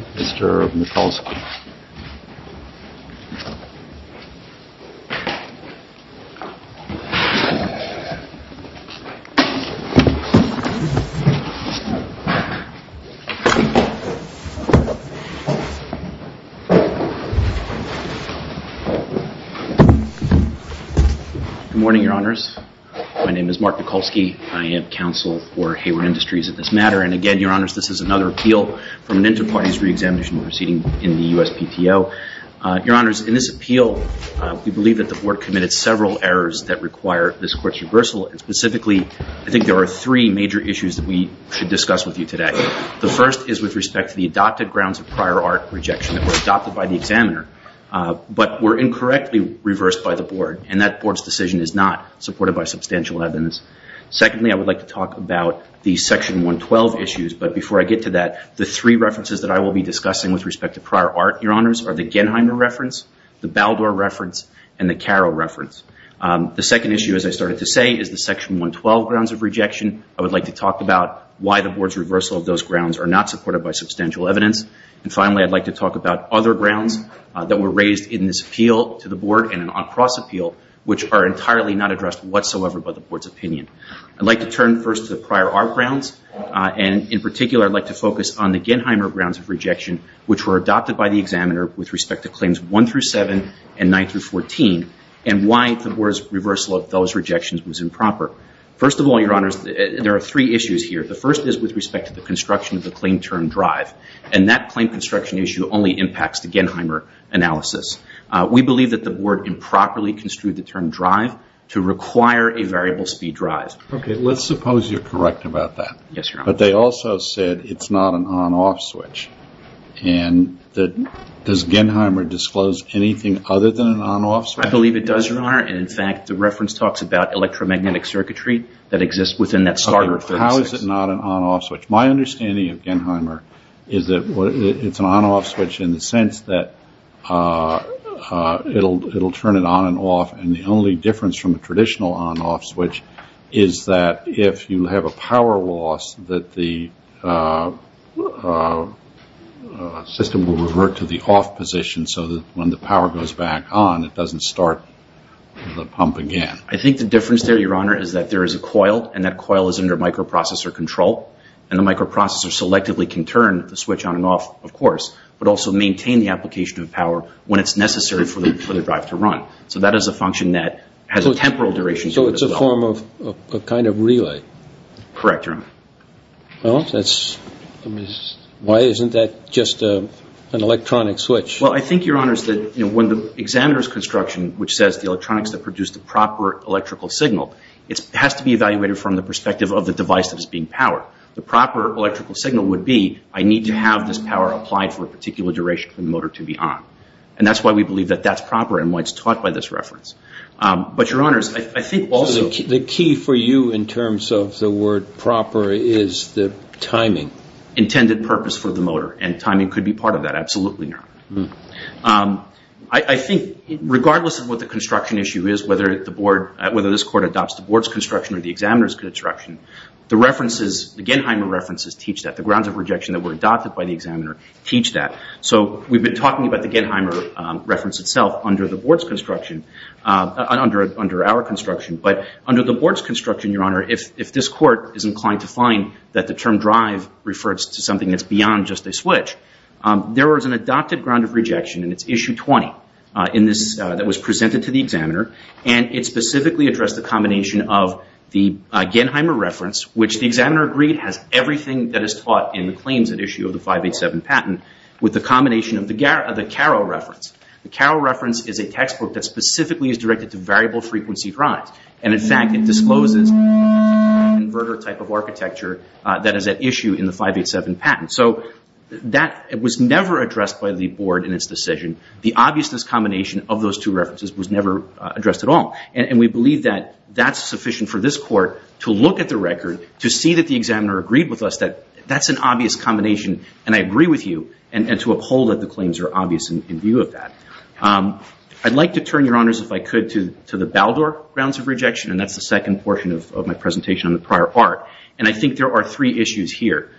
Good morning, Your Honors. My name is Mark Mikulski. I am counsel for Hayward Industries in this matter. And again, Your Honors, this is another appeal from an inter-parties re-examination proceeding in the USPTO. Your Honors, in this appeal, we believe that the Board committed several errors that require this Court's reversal. And specifically, I think there are three major issues that we should discuss with you today. The first is with respect to the adopted grounds of prior art rejection that were adopted by the examiner, but were incorrectly reversed by the Board. And that Board's decision is not supported by substantial evidence. Secondly, I would like to talk about the Section 112 issues. But before I get to that, the three references that I will be discussing with respect to prior art, Your Honors, are the Genheimer reference, the Baldor reference, and the Caro reference. The second issue, as I started to say, is the Section 112 grounds of rejection. I would like to talk about why the Board's reversal of those grounds are not supported by substantial evidence. And finally, I'd like to talk about other grounds that were raised in this appeal to the Board in an on-cross appeal, which are entirely not addressed whatsoever by the Board's opinion. I'd like to turn first to the prior art grounds. And in particular, I'd like to focus on the Genheimer grounds of rejection, which were adopted by the examiner with respect to Claims 1 through 7 and 9 through 14, and why the Board's reversal of those rejections was improper. First of all, Your Honors, there are three issues here. The first is with respect to the construction of the claim term drive. And that claim construction issue only impacts the Genheimer analysis. We believe that the Board improperly construed the term drive to require a variable speed drive. Okay. Let's suppose you're correct about that. Yes, Your Honors. But they also said it's not an on-off switch. And does Genheimer disclose anything other than an on-off switch? I believe it does, Your Honor. And in fact, the reference talks about electromagnetic circuitry that exists within that starter of 36. How is it not an on-off switch? My understanding of Genheimer is that it's an on-off switch in the sense that it'll turn it on and off. And the only difference from a traditional on-off switch is that if you have a power loss, that the system will revert to the off position so that when the power goes back on, it doesn't start the pump again. I think the difference there, Your Honor, is that there is a coil, and that coil is under microprocessor control. And the microprocessor selectively can turn the switch on and off, of course, but also maintain the application of power when it's necessary for the drive to run. So that is a function that has a temporal duration. So it's a form of a kind of relay? Correct, Your Honor. Well, that's, I mean, why isn't that just an electronic switch? Well, I think, Your Honors, that, you know, when the examiner's construction, which says the electronics that produce the proper electrical signal, it has to be evaluated from the perspective of the device that is being powered. The proper electrical signal would be, I need to have this power applied for a particular duration for the motor to be on. And that's why we believe that that's proper and why it's taught by this reference. But, Your Honors, I think also... The key for you in terms of the word proper is the timing. Intended purpose for the motor, and timing could be part of that. Absolutely not. I think regardless of what the construction issue is, whether the board, whether this court adopts the board's construction or the examiner's construction, the references, the Genheimer references teach that. The grounds of rejection that were adopted by the examiner teach that. So we've been talking about the Genheimer reference itself under the board's construction, under our construction. But under the board's construction, Your Honor, if this court is inclined to find that the term drive refers to something that's beyond just a switch, there was an adopted ground of rejection in its issue 20 that was presented to the examiner, and it specifically addressed the combination of the Genheimer reference, which the examiner agreed has everything that is taught in the claims at issue of the 587 patent, with the combination of the Carroll reference. The Carroll reference is a textbook that specifically is directed to variable frequency drives. And in fact, it discloses the inverter type of architecture that is at issue in the 587 patent. So that was never addressed by the board in its decision. The obviousness combination of those two references was never addressed at all. And we believe that that's sufficient for this court to look at the record, to see that the examiner agreed with us that that's an obvious combination, and I agree with you, and to uphold that the claims are obvious in view of that. I'd like to turn, Your Honors, if I could, to the Baldor grounds of rejection, and that's the second portion of my presentation on the prior part. And I think there are three issues here.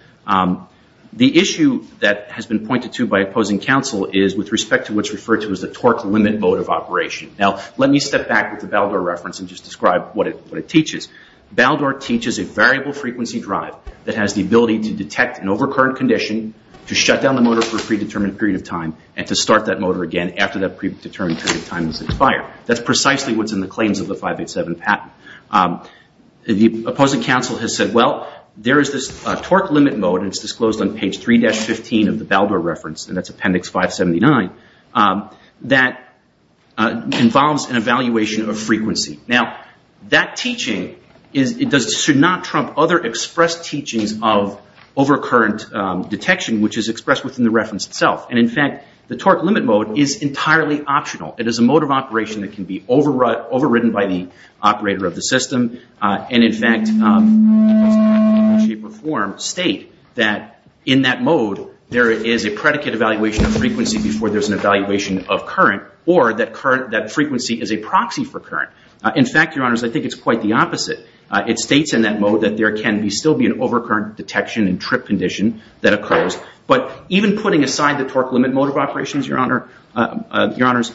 The issue that has been pointed to by opposing counsel is with respect to what's referred to as the torque limit mode of operation. Now, let me step back with the Baldor reference and just describe what it teaches. Baldor teaches a variable frequency drive that has the ability to detect an overcurrent condition, to shut down the motor for a predetermined period of time, and to start that motor again after that predetermined period of time has expired. That's precisely what's in the claims of the 587 patent. The opposing counsel has said, well, there is this torque limit mode, and it's disclosed on page 3-15 of the Baldor reference, and that's appendix 579, that involves an evaluation of frequency. Now, that teaching should not trump other expressed teachings of overcurrent detection, which is expressed within the reference itself. And in fact, the torque limit mode is entirely optional. It is a mode of operation that can be overwritten by the operator of the system, and in fact, it does not in any shape or form state that in that mode there is a predicate evaluation of frequency before there's an evaluation of current, or that frequency is a proxy for current. In fact, Your Honors, I think it's quite the opposite. It states in that mode that there can still be an overcurrent detection and trip condition that occurs. But even putting aside the torque limit mode of operations, Your Honors,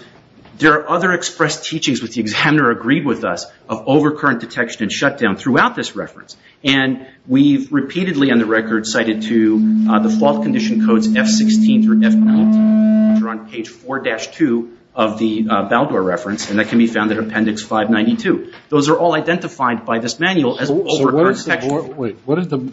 there are other expressed teachings, which the examiner agreed with us, of overcurrent detection and shutdown throughout this reference. And we've repeatedly, on the record, cited to the fault condition codes F-16 through F-19, which are on page 4-2 of the Baldor reference, and that can be found in appendix 592. Those are all identified by this manual as overcurrent detection. Wait, what are the...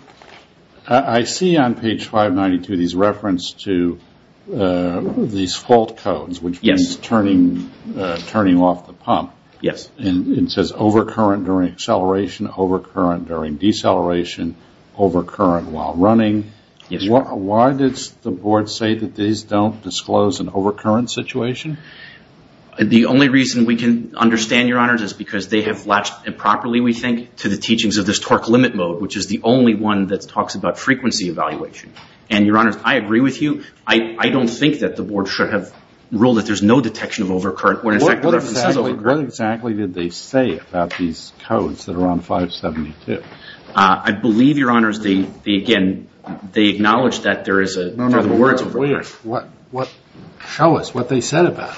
I see on page 592 these references to these fault codes, which means turning off the pump. Yes. And it says overcurrent during acceleration, overcurrent during deceleration, overcurrent while running. Why does the board say that these don't disclose an overcurrent situation? The only reason we can understand, Your Honors, is because they have improperly, we think, to the teachings of this torque limit mode, which is the only one that talks about frequency evaluation. And, Your Honors, I agree with you. I don't think that the board should have ruled that there's no detection of overcurrent when, in fact, the reference is overcurrent. What exactly did they say about these codes that are on 572? I believe, Your Honors, they, again, they acknowledge that there is a... No, no, no. Wait a minute. Show us what they said about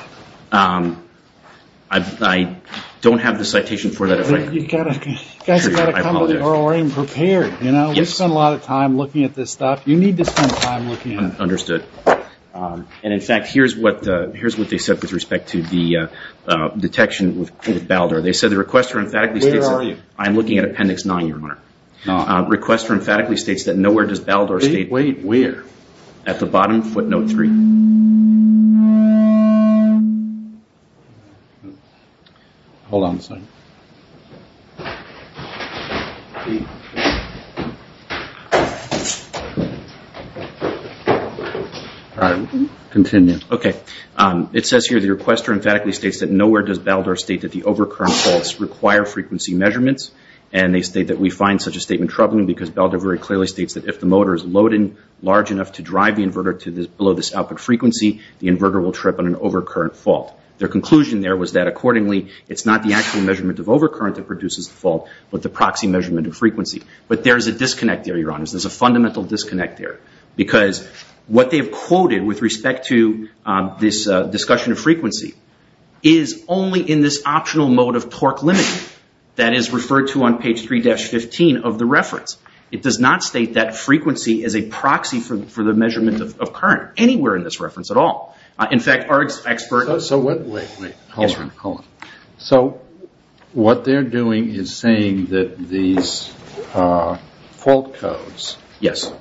it. I don't have the citation for that. You've got to come with it already prepared. You know, we've spent a lot of time looking at this stuff. You need to spend time looking at it. Understood. And, in fact, here's what they said with respect to the detection with Baldor. They said the request for emphatically states... Where are you? I'm looking at appendix 9, Your Honor. Request for emphatically states that nowhere does Baldor state... Wait, where? At the bottom footnote 3. Hold on a second. All right. Continue. Okay. It says here the requester emphatically states that nowhere does Baldor state that the overcurrent faults require frequency measurements, and they state that we find such a statement troubling because Baldor very clearly states that if the motor is loaded large enough to drive the inverter to below this output frequency, the inverter will trip on an overcurrent fault. Their conclusion there was that, accordingly, it's not the actual measurement of overcurrent that produces the fault, but the proxy measurement of frequency. But there's a disconnect there, Your Honors. There's a fundamental disconnect there because what they've quoted with respect to this discussion of frequency is only in this optional mode of torque limiting that is referred to on page 3-15 of the reference. It does not state that frequency is a proxy for the measurement of current anywhere in this reference at all. In fact, our expert... So what... Wait, wait. Hold on. Hold on. So what they're doing is saying that these fault codes... Yes.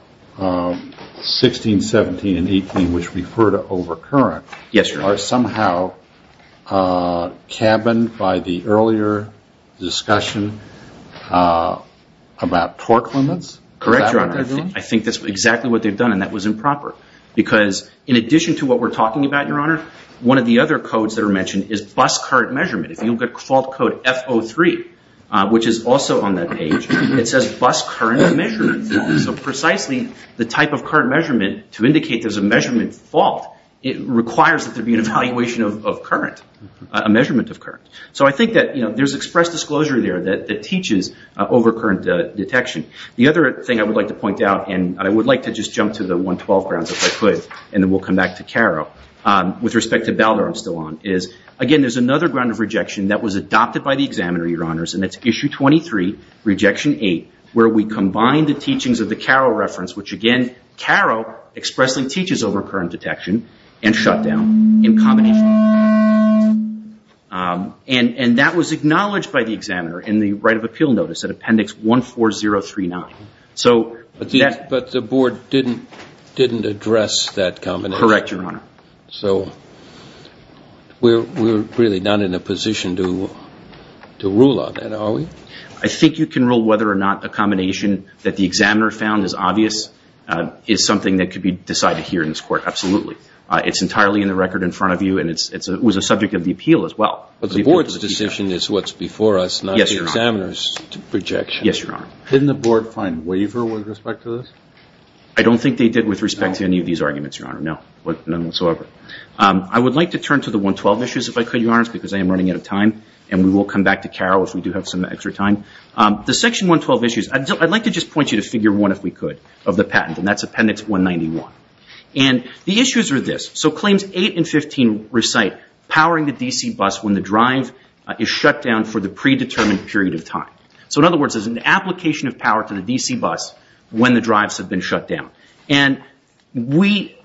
16, 17, and 18, which refer to overcurrent... Yes, Your Honor. Are somehow cabined by the earlier discussion about torque limits? Correct, Your Honor. I think that's exactly what they've done and that was improper because in addition to what we're talking about, Your Honor, one of the other codes that are mentioned is bus current measurement. If you look at fault code F03, which is also on that page, it says bus current measurement. So precisely the type of current measurement to indicate there's a measurement fault, it requires that there be an evaluation of current, a measurement of current. So I think that, you know, there's expressed disclosure there that teaches overcurrent detection. The other thing I would like to point out, and I would like to just jump to the 112 grounds if I could, and then we'll come back to CARO. With respect to Balder, I'm still on, is, again, there's another ground of rejection that was adopted by the examiner, Your Honors, and it's Issue 23, Rejection 8, where we combine the teachings of the CARO reference, which again, CARO expressly teaches overcurrent detection and shutdown in combination. And that was acknowledged by the examiner in the right of appeal notice at Appendix 14039. But the board didn't address that combination? Correct, Your Honor. So we're really not in a position to rule on that, are we? I think you can rule whether or not a combination that the examiner found is obvious is something that could be decided here in this court, absolutely. It's entirely in the record in was a subject of the appeal as well. But the board's decision is what's before us, not the examiner's projection. Yes, Your Honor. Didn't the board find waiver with respect to this? I don't think they did with respect to any of these arguments, Your Honor. No, none whatsoever. I would like to turn to the 112 issues, if I could, Your Honors, because I am running out of time, and we will come back to CARO if we do have some extra time. The Section 112 issues, I'd like to just point you to Figure 1, if we could, of the patent, and that's Appendix 191. The issues are this. Claims 8 and 15 recite, powering the DC bus when the drive is shut down for the predetermined period of time. In other words, there's an application of power to the DC bus when the drives have been shut down. We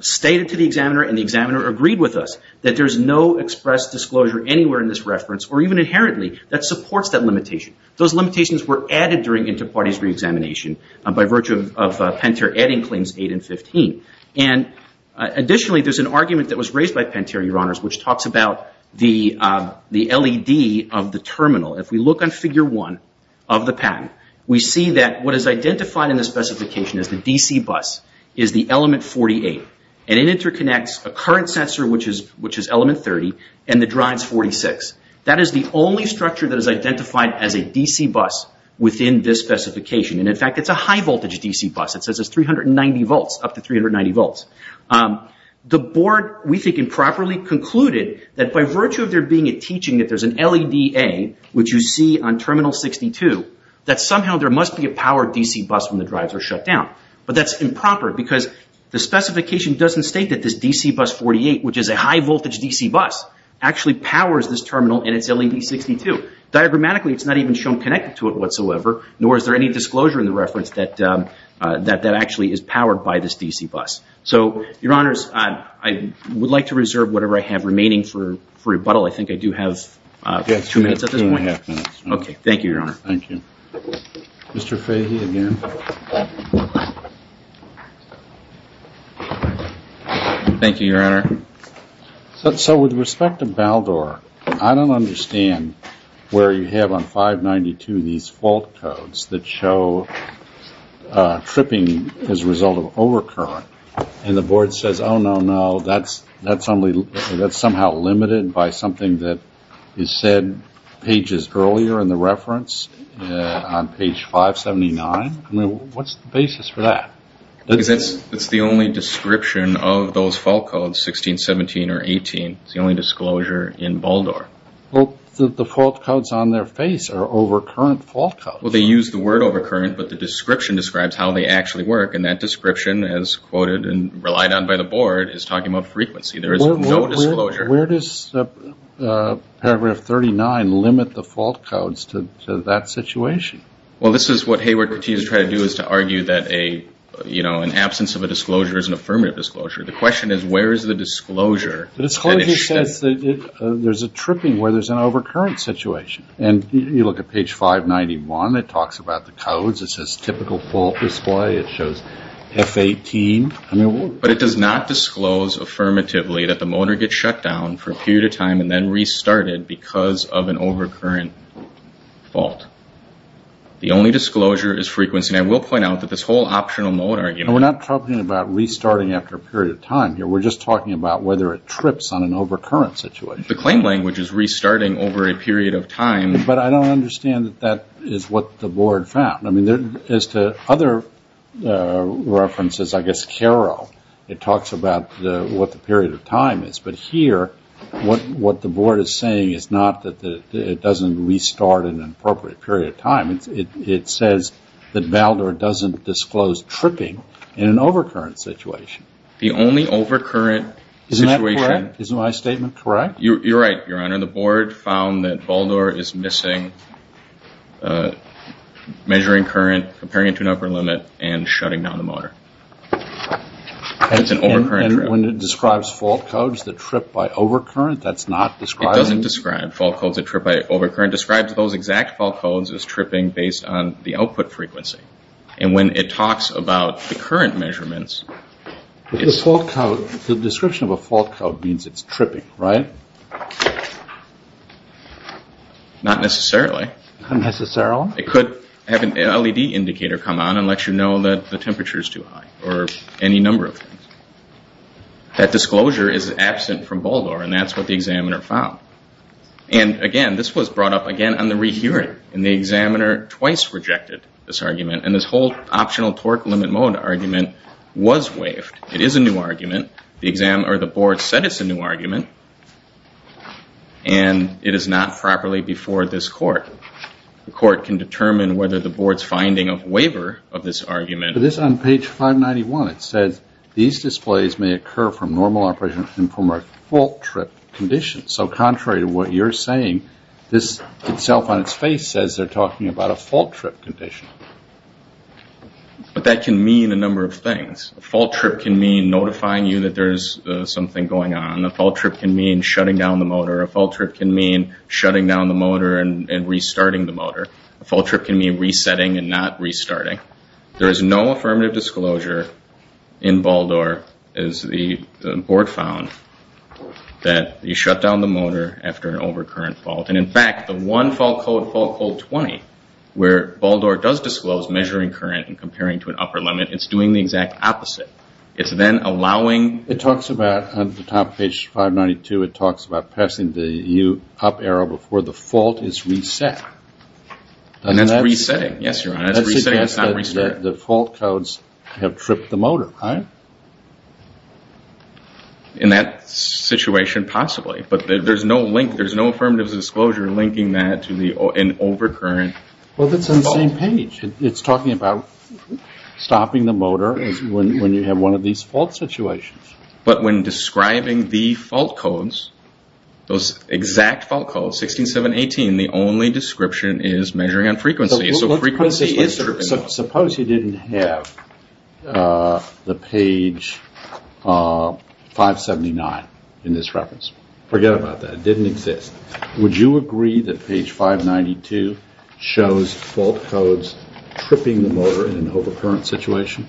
stated to the examiner, and the examiner agreed with us, that there's no express disclosure anywhere in this reference, or even inherently, that supports that limitation. Those limitations were added during inter-parties re-examination by virtue of Pentair adding Claims 8 and 15. Additionally, there's an argument that was raised by Pentair, Your Honors, which talks about the LED of the terminal. If we look on Figure 1 of the patent, we see that what is identified in the specification as the DC bus is the element 48. It interconnects a current sensor, which is element 30, and the drive's 46. That is the only structure that is identified as a DC bus within this specification. In fact, it's a high-voltage DC bus. It says it's 390 volts, up to 390 volts. The board, we think, improperly concluded that by virtue of there being a teaching that there's an LEDA, which you see on Terminal 62, that somehow there must be a powered DC bus when the drives are shut down. But that's improper because the specification doesn't state that this DC bus 48, which is a high-voltage DC bus, actually powers this terminal and its LED62. Diagrammatically, it's not even shown connected to it whatsoever, nor is there any disclosure in the reference that that actually is powered by this DC bus. Your Honors, I would like to reserve whatever I have remaining for rebuttal. I think I do have two minutes at this point. Okay. Thank you, Your Honor. Thank you. Mr. Fahy again. Thank you, Your Honor. So with respect to Baldor, I don't understand where you have on 592 these fault codes that show tripping as a result of overcurrent, and the board says, oh, no, no, that's only, that's somehow limited by something that is said pages earlier in the reference on page 579. I mean, what's the basis for that? Because it's the only description of those fault codes, 16, 17, or 18. It's the only disclosure in Baldor. Well, the fault codes on their face are overcurrent fault codes. Well, they use the word overcurrent, but the description describes how they actually work, and that description as quoted and relied on by the board is talking about frequency. There is no disclosure. Where does paragraph 39 limit the fault codes to that situation? Well, this is what Hayward continues to try to do is to argue that a, you know, an absence of a disclosure is an affirmative disclosure. The question is, where is the disclosure? But it's hard to say. There's a tripping where there's an overcurrent situation, and you look at page 591. It talks about the codes. It says typical fault display. It shows F18. But it does not disclose affirmatively that the motor gets shut down for a period of time and then restarted because of an overcurrent fault. The only disclosure is frequency, and I will point out that this whole optional mode argument. We're not talking about restarting after a period of time here. We're just talking about whether it trips on an overcurrent situation. The claim language is restarting over a period of time. But I don't reference this, I guess, carol. It talks about what the period of time is. But here, what the board is saying is not that it doesn't restart in an appropriate period of time. It says that Baldor doesn't disclose tripping in an overcurrent situation. The only overcurrent situation. Isn't that correct? Isn't my statement correct? You're right, Your Honor. The board found that Baldor is missing, measuring current, comparing it to an upper limit, and shutting down the motor. It's an overcurrent trip. And when it describes fault codes that trip by overcurrent, that's not describing... It doesn't describe fault codes that trip by overcurrent. It describes those exact fault codes as tripping based on the output frequency. And when it talks about the current measurements... The fault code, the description of a fault code means it's tripping, right? Not necessarily. Not necessarily? It could have an LED indicator come on and let you know that the temperature is too high, or any number of things. That disclosure is absent from Baldor, and that's what the examiner found. And again, this was brought up again on the rehearing. And the examiner twice rejected this argument. And this whole new argument, and it is not properly before this court. The court can determine whether the board's finding of waiver of this argument... This on page 591, it says, these displays may occur from normal operation and from a fault trip condition. So contrary to what you're saying, this itself on its face says they're talking about a fault trip condition. But that can mean a number of things. A fault trip can mean notifying you that there's something going on. A fault trip can mean shutting down the motor. A fault trip can mean shutting down the motor and restarting the motor. A fault trip can mean resetting and not restarting. There is no affirmative disclosure in Baldor, as the board found, that you shut down the motor after an overcurrent fault. And in fact, the one fault code, fault code 20, where Baldor does disclose measuring current and comparing to an upper limit, it's doing the exact opposite. It's then allowing... It talks about, on the top page 592, it talks about passing the up arrow before the fault is reset. And that's resetting. Yes, Your Honor, it's resetting, it's not resetting. The fault codes have tripped the motor, right? In that situation, possibly. But there's no link, there's no affirmative disclosure linking that to an overcurrent fault. Well, that's on the same page. It's one of these fault situations. But when describing the fault codes, those exact fault codes, 16, 7, 18, the only description is measuring on frequency. Suppose you didn't have the page 579 in this reference. Forget about that, it didn't exist. Would you agree that page 592 shows fault codes tripping the motor in an overcurrent situation?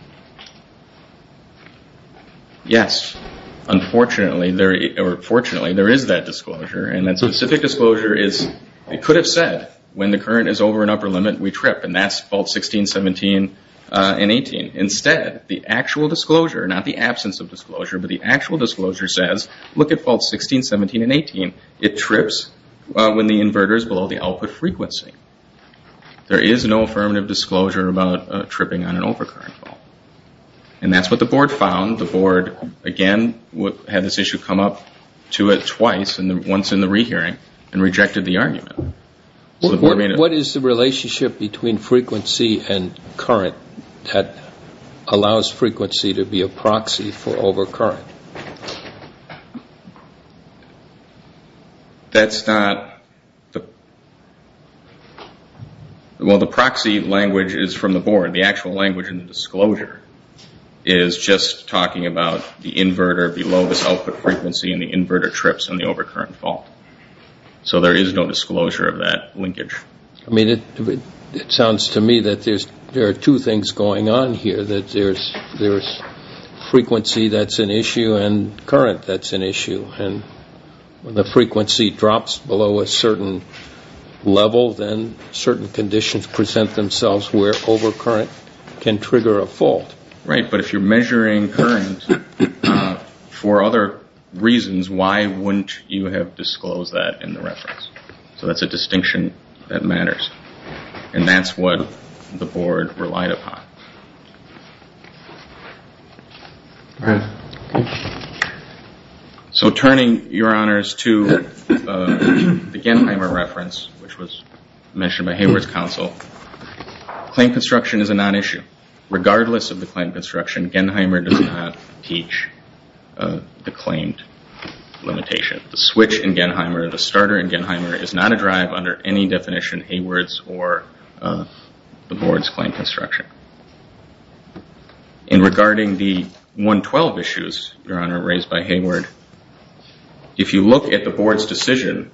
Yes. Unfortunately, or fortunately, there is that disclosure. And that specific disclosure is, it could have said, when the current is over an upper limit, we trip, and that's fault 16, 17, and 18. Instead, the actual disclosure, not the absence of disclosure, but the actual disclosure says, look at fault 16, 17, and 18. It trips when the inverter is below the output frequency. There is no affirmative disclosure about tripping on an overcurrent fault. And that's what the board found. The board, again, had this issue come up to it twice, and once in the rehearing, and rejected the argument. What is the relationship between frequency and current that allows frequency to be a proxy for overcurrent? Well, the proxy language is from the board. The actual language in the disclosure is just talking about the inverter below this output frequency, and the inverter trips on the overcurrent fault. So there is no disclosure of that linkage. I mean, it sounds to me that there are two things going on here, that there's frequency that's an issue, and current that's an issue. And when the frequency drops below a certain level, then certain conditions present themselves where overcurrent can trigger a fault. Right, but if you're measuring current for other reasons, why wouldn't you have disclosed that in the reference? So that's a distinction that matters. And that's what the board relied upon. Right. So turning, Your Honors, to the Genhymer reference, which was mentioned by Hayward's counsel, claim construction is a non-issue. Regardless of the claim construction, Genhymer does not teach the claimed limitation. The switch in Genhymer, the starter in Genhymer, is not a drive under any definition, Hayward's or the board's claim construction. In regarding the 112 issues, Your Honor, raised by Hayward, if you look at the board's decision,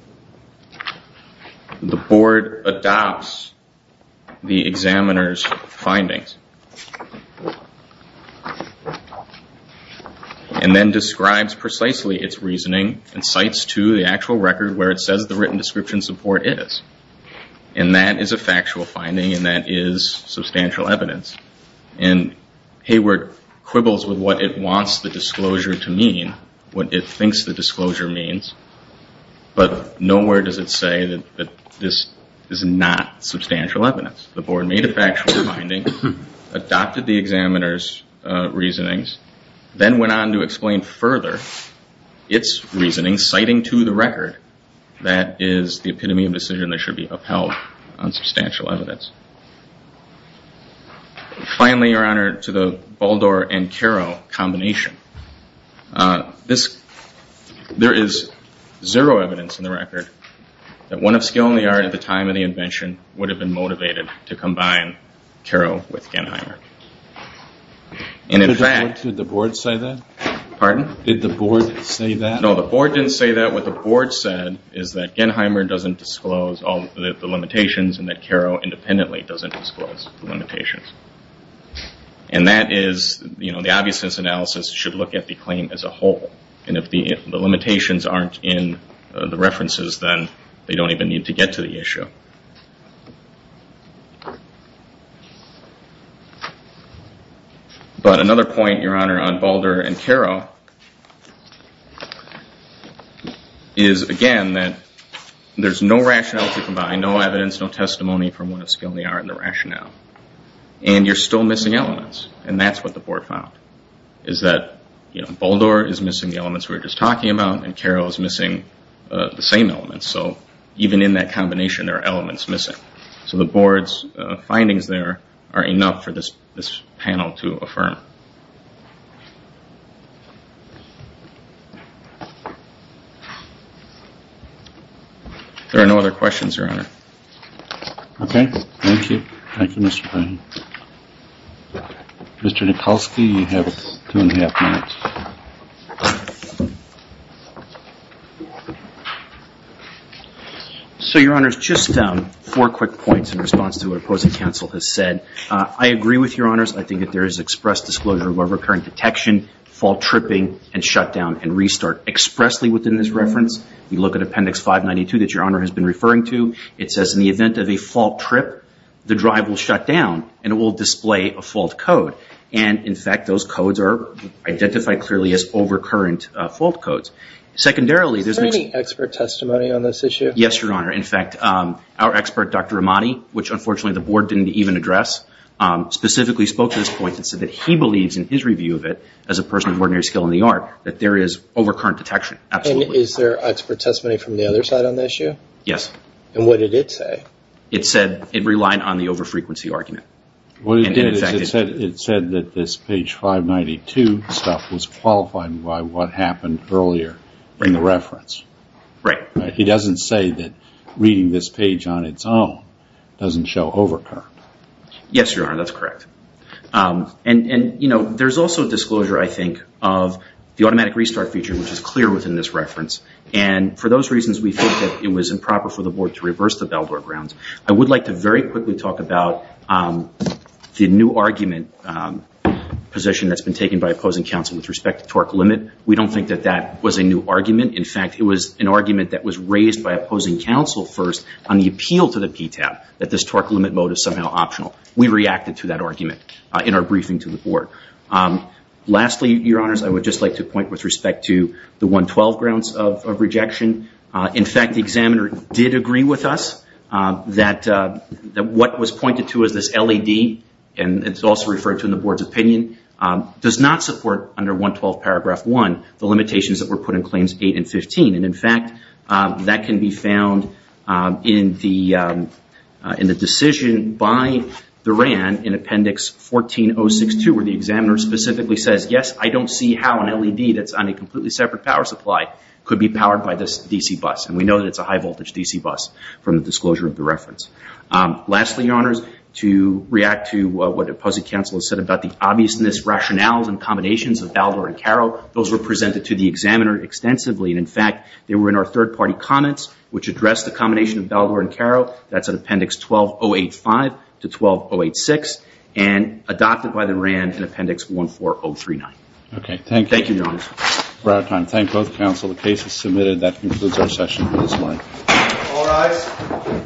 the board adopts the examiner's findings, and then describes precisely its reasoning, and cites to the actual record where it says the written description support is. And that is a factual finding, and that is substantial evidence. And Hayward quibbles with what it wants the disclosure to mean, what it thinks the disclosure means, but nowhere does it say that this is not substantial evidence. The board made a factual finding, adopted the examiner's reasonings, then went on to explain further its reasoning, citing to the record that is the epitome of decision that should be upheld on substantial evidence. Finally, Your Honor, to the Baldor and Caro combination. There is zero evidence in the record that one of skill and the art at the time of the invention would have been motivated to combine Caro with Genhymer. And in fact- Could the board say that? Pardon? Did the board say that? No, the board didn't say that. What the board said is that Genhymer doesn't disclose all the limitations, and that Caro independently doesn't disclose the limitations. And that is, you know, the obviousness analysis should look at the claim as a whole. And if the limitations aren't in the references, then they don't even need to get to the issue. But another point, Your Honor, on Baldor and Caro is, again, that there's no rationale to combine, no evidence, no testimony from one of skill and the art in the rationale. And you're still missing elements. And that's what the board found, is that, you know, Baldor is missing the elements we were just talking about, and Caro is missing the same elements. So even in that combination, there are elements missing. So the board's findings there are enough for this panel to affirm. There are no other questions, Your Honor. Okay, thank you. Thank you, Mr. Payne. Mr. Nikolsky, you have two and a half minutes. So, Your Honors, just four quick points in response to what opposing counsel has said. I agree with Your Honors. I think that there is express disclosure of over-occurring detection, fault tripping, and shutdown and restart. Expressly within this reference, you look at Appendix 592 that Your Honor has been referring to. It says, in the event of a fault trip, the drive will shut down, and it will display a fault code. And, in fact, those codes are identified clearly as over-current fault codes. Secondarily, there's... Is there any expert testimony on this issue? Yes, Your Honor. In fact, our expert, Dr. Amati, which, unfortunately, the board didn't even address, specifically spoke to this point and said that he believes, in his review of it, as a person of ordinary skill and the art, that there is over-current detection. Absolutely. And is there expert testimony from the other side on this issue? Yes. And what did it say? It said it relied on the over-frequency argument. It said that this page 592 stuff was qualified by what happened earlier in the reference. Right. He doesn't say that reading this page on its own doesn't show over-current. Yes, Your Honor. That's correct. And, you know, there's also a disclosure, I think, of the automatic restart feature, which is clear within this reference. And, for those reasons, we think that it was improper for the board to reverse the Baldor grounds. I would like to very quickly talk about the new argument position that's been taken by opposing counsel with respect to torque limit. We don't think that that was a new argument. In fact, it was an argument that was raised by opposing counsel first on the appeal to the PTAB, that this torque limit mode is somehow optional. We reacted to that argument in our briefing to the board. Lastly, Your Honors, I would just like to point with respect to the 112 grounds of rejection. In fact, the examiner did agree with us that what was pointed to as this LED, and it's also referred to in the board's opinion, does not support, under 112 paragraph 1, the limitations that were put in Claims 8 and 15. And, in fact, that can be found in the decision by the RAN in Appendix 14-062, where the examiner specifically says, I don't see how an LED that's on a completely separate power supply could be powered by this DC bus. And we know that it's a high-voltage DC bus from the disclosure of the reference. Lastly, Your Honors, to react to what opposing counsel has said about the obviousness, rationales, and combinations of Baldor and Caro, those were presented to the examiner extensively. And, in fact, they were in our third-party comments, which addressed the combination of Baldor and Caro, that's in Appendix 12085 to 12086, and adopted by the RAN in Appendix 14039. Okay, thank you. Thank you, Your Honors. We're out of time. Thank both counsel. The case is submitted. That concludes our session. All rise.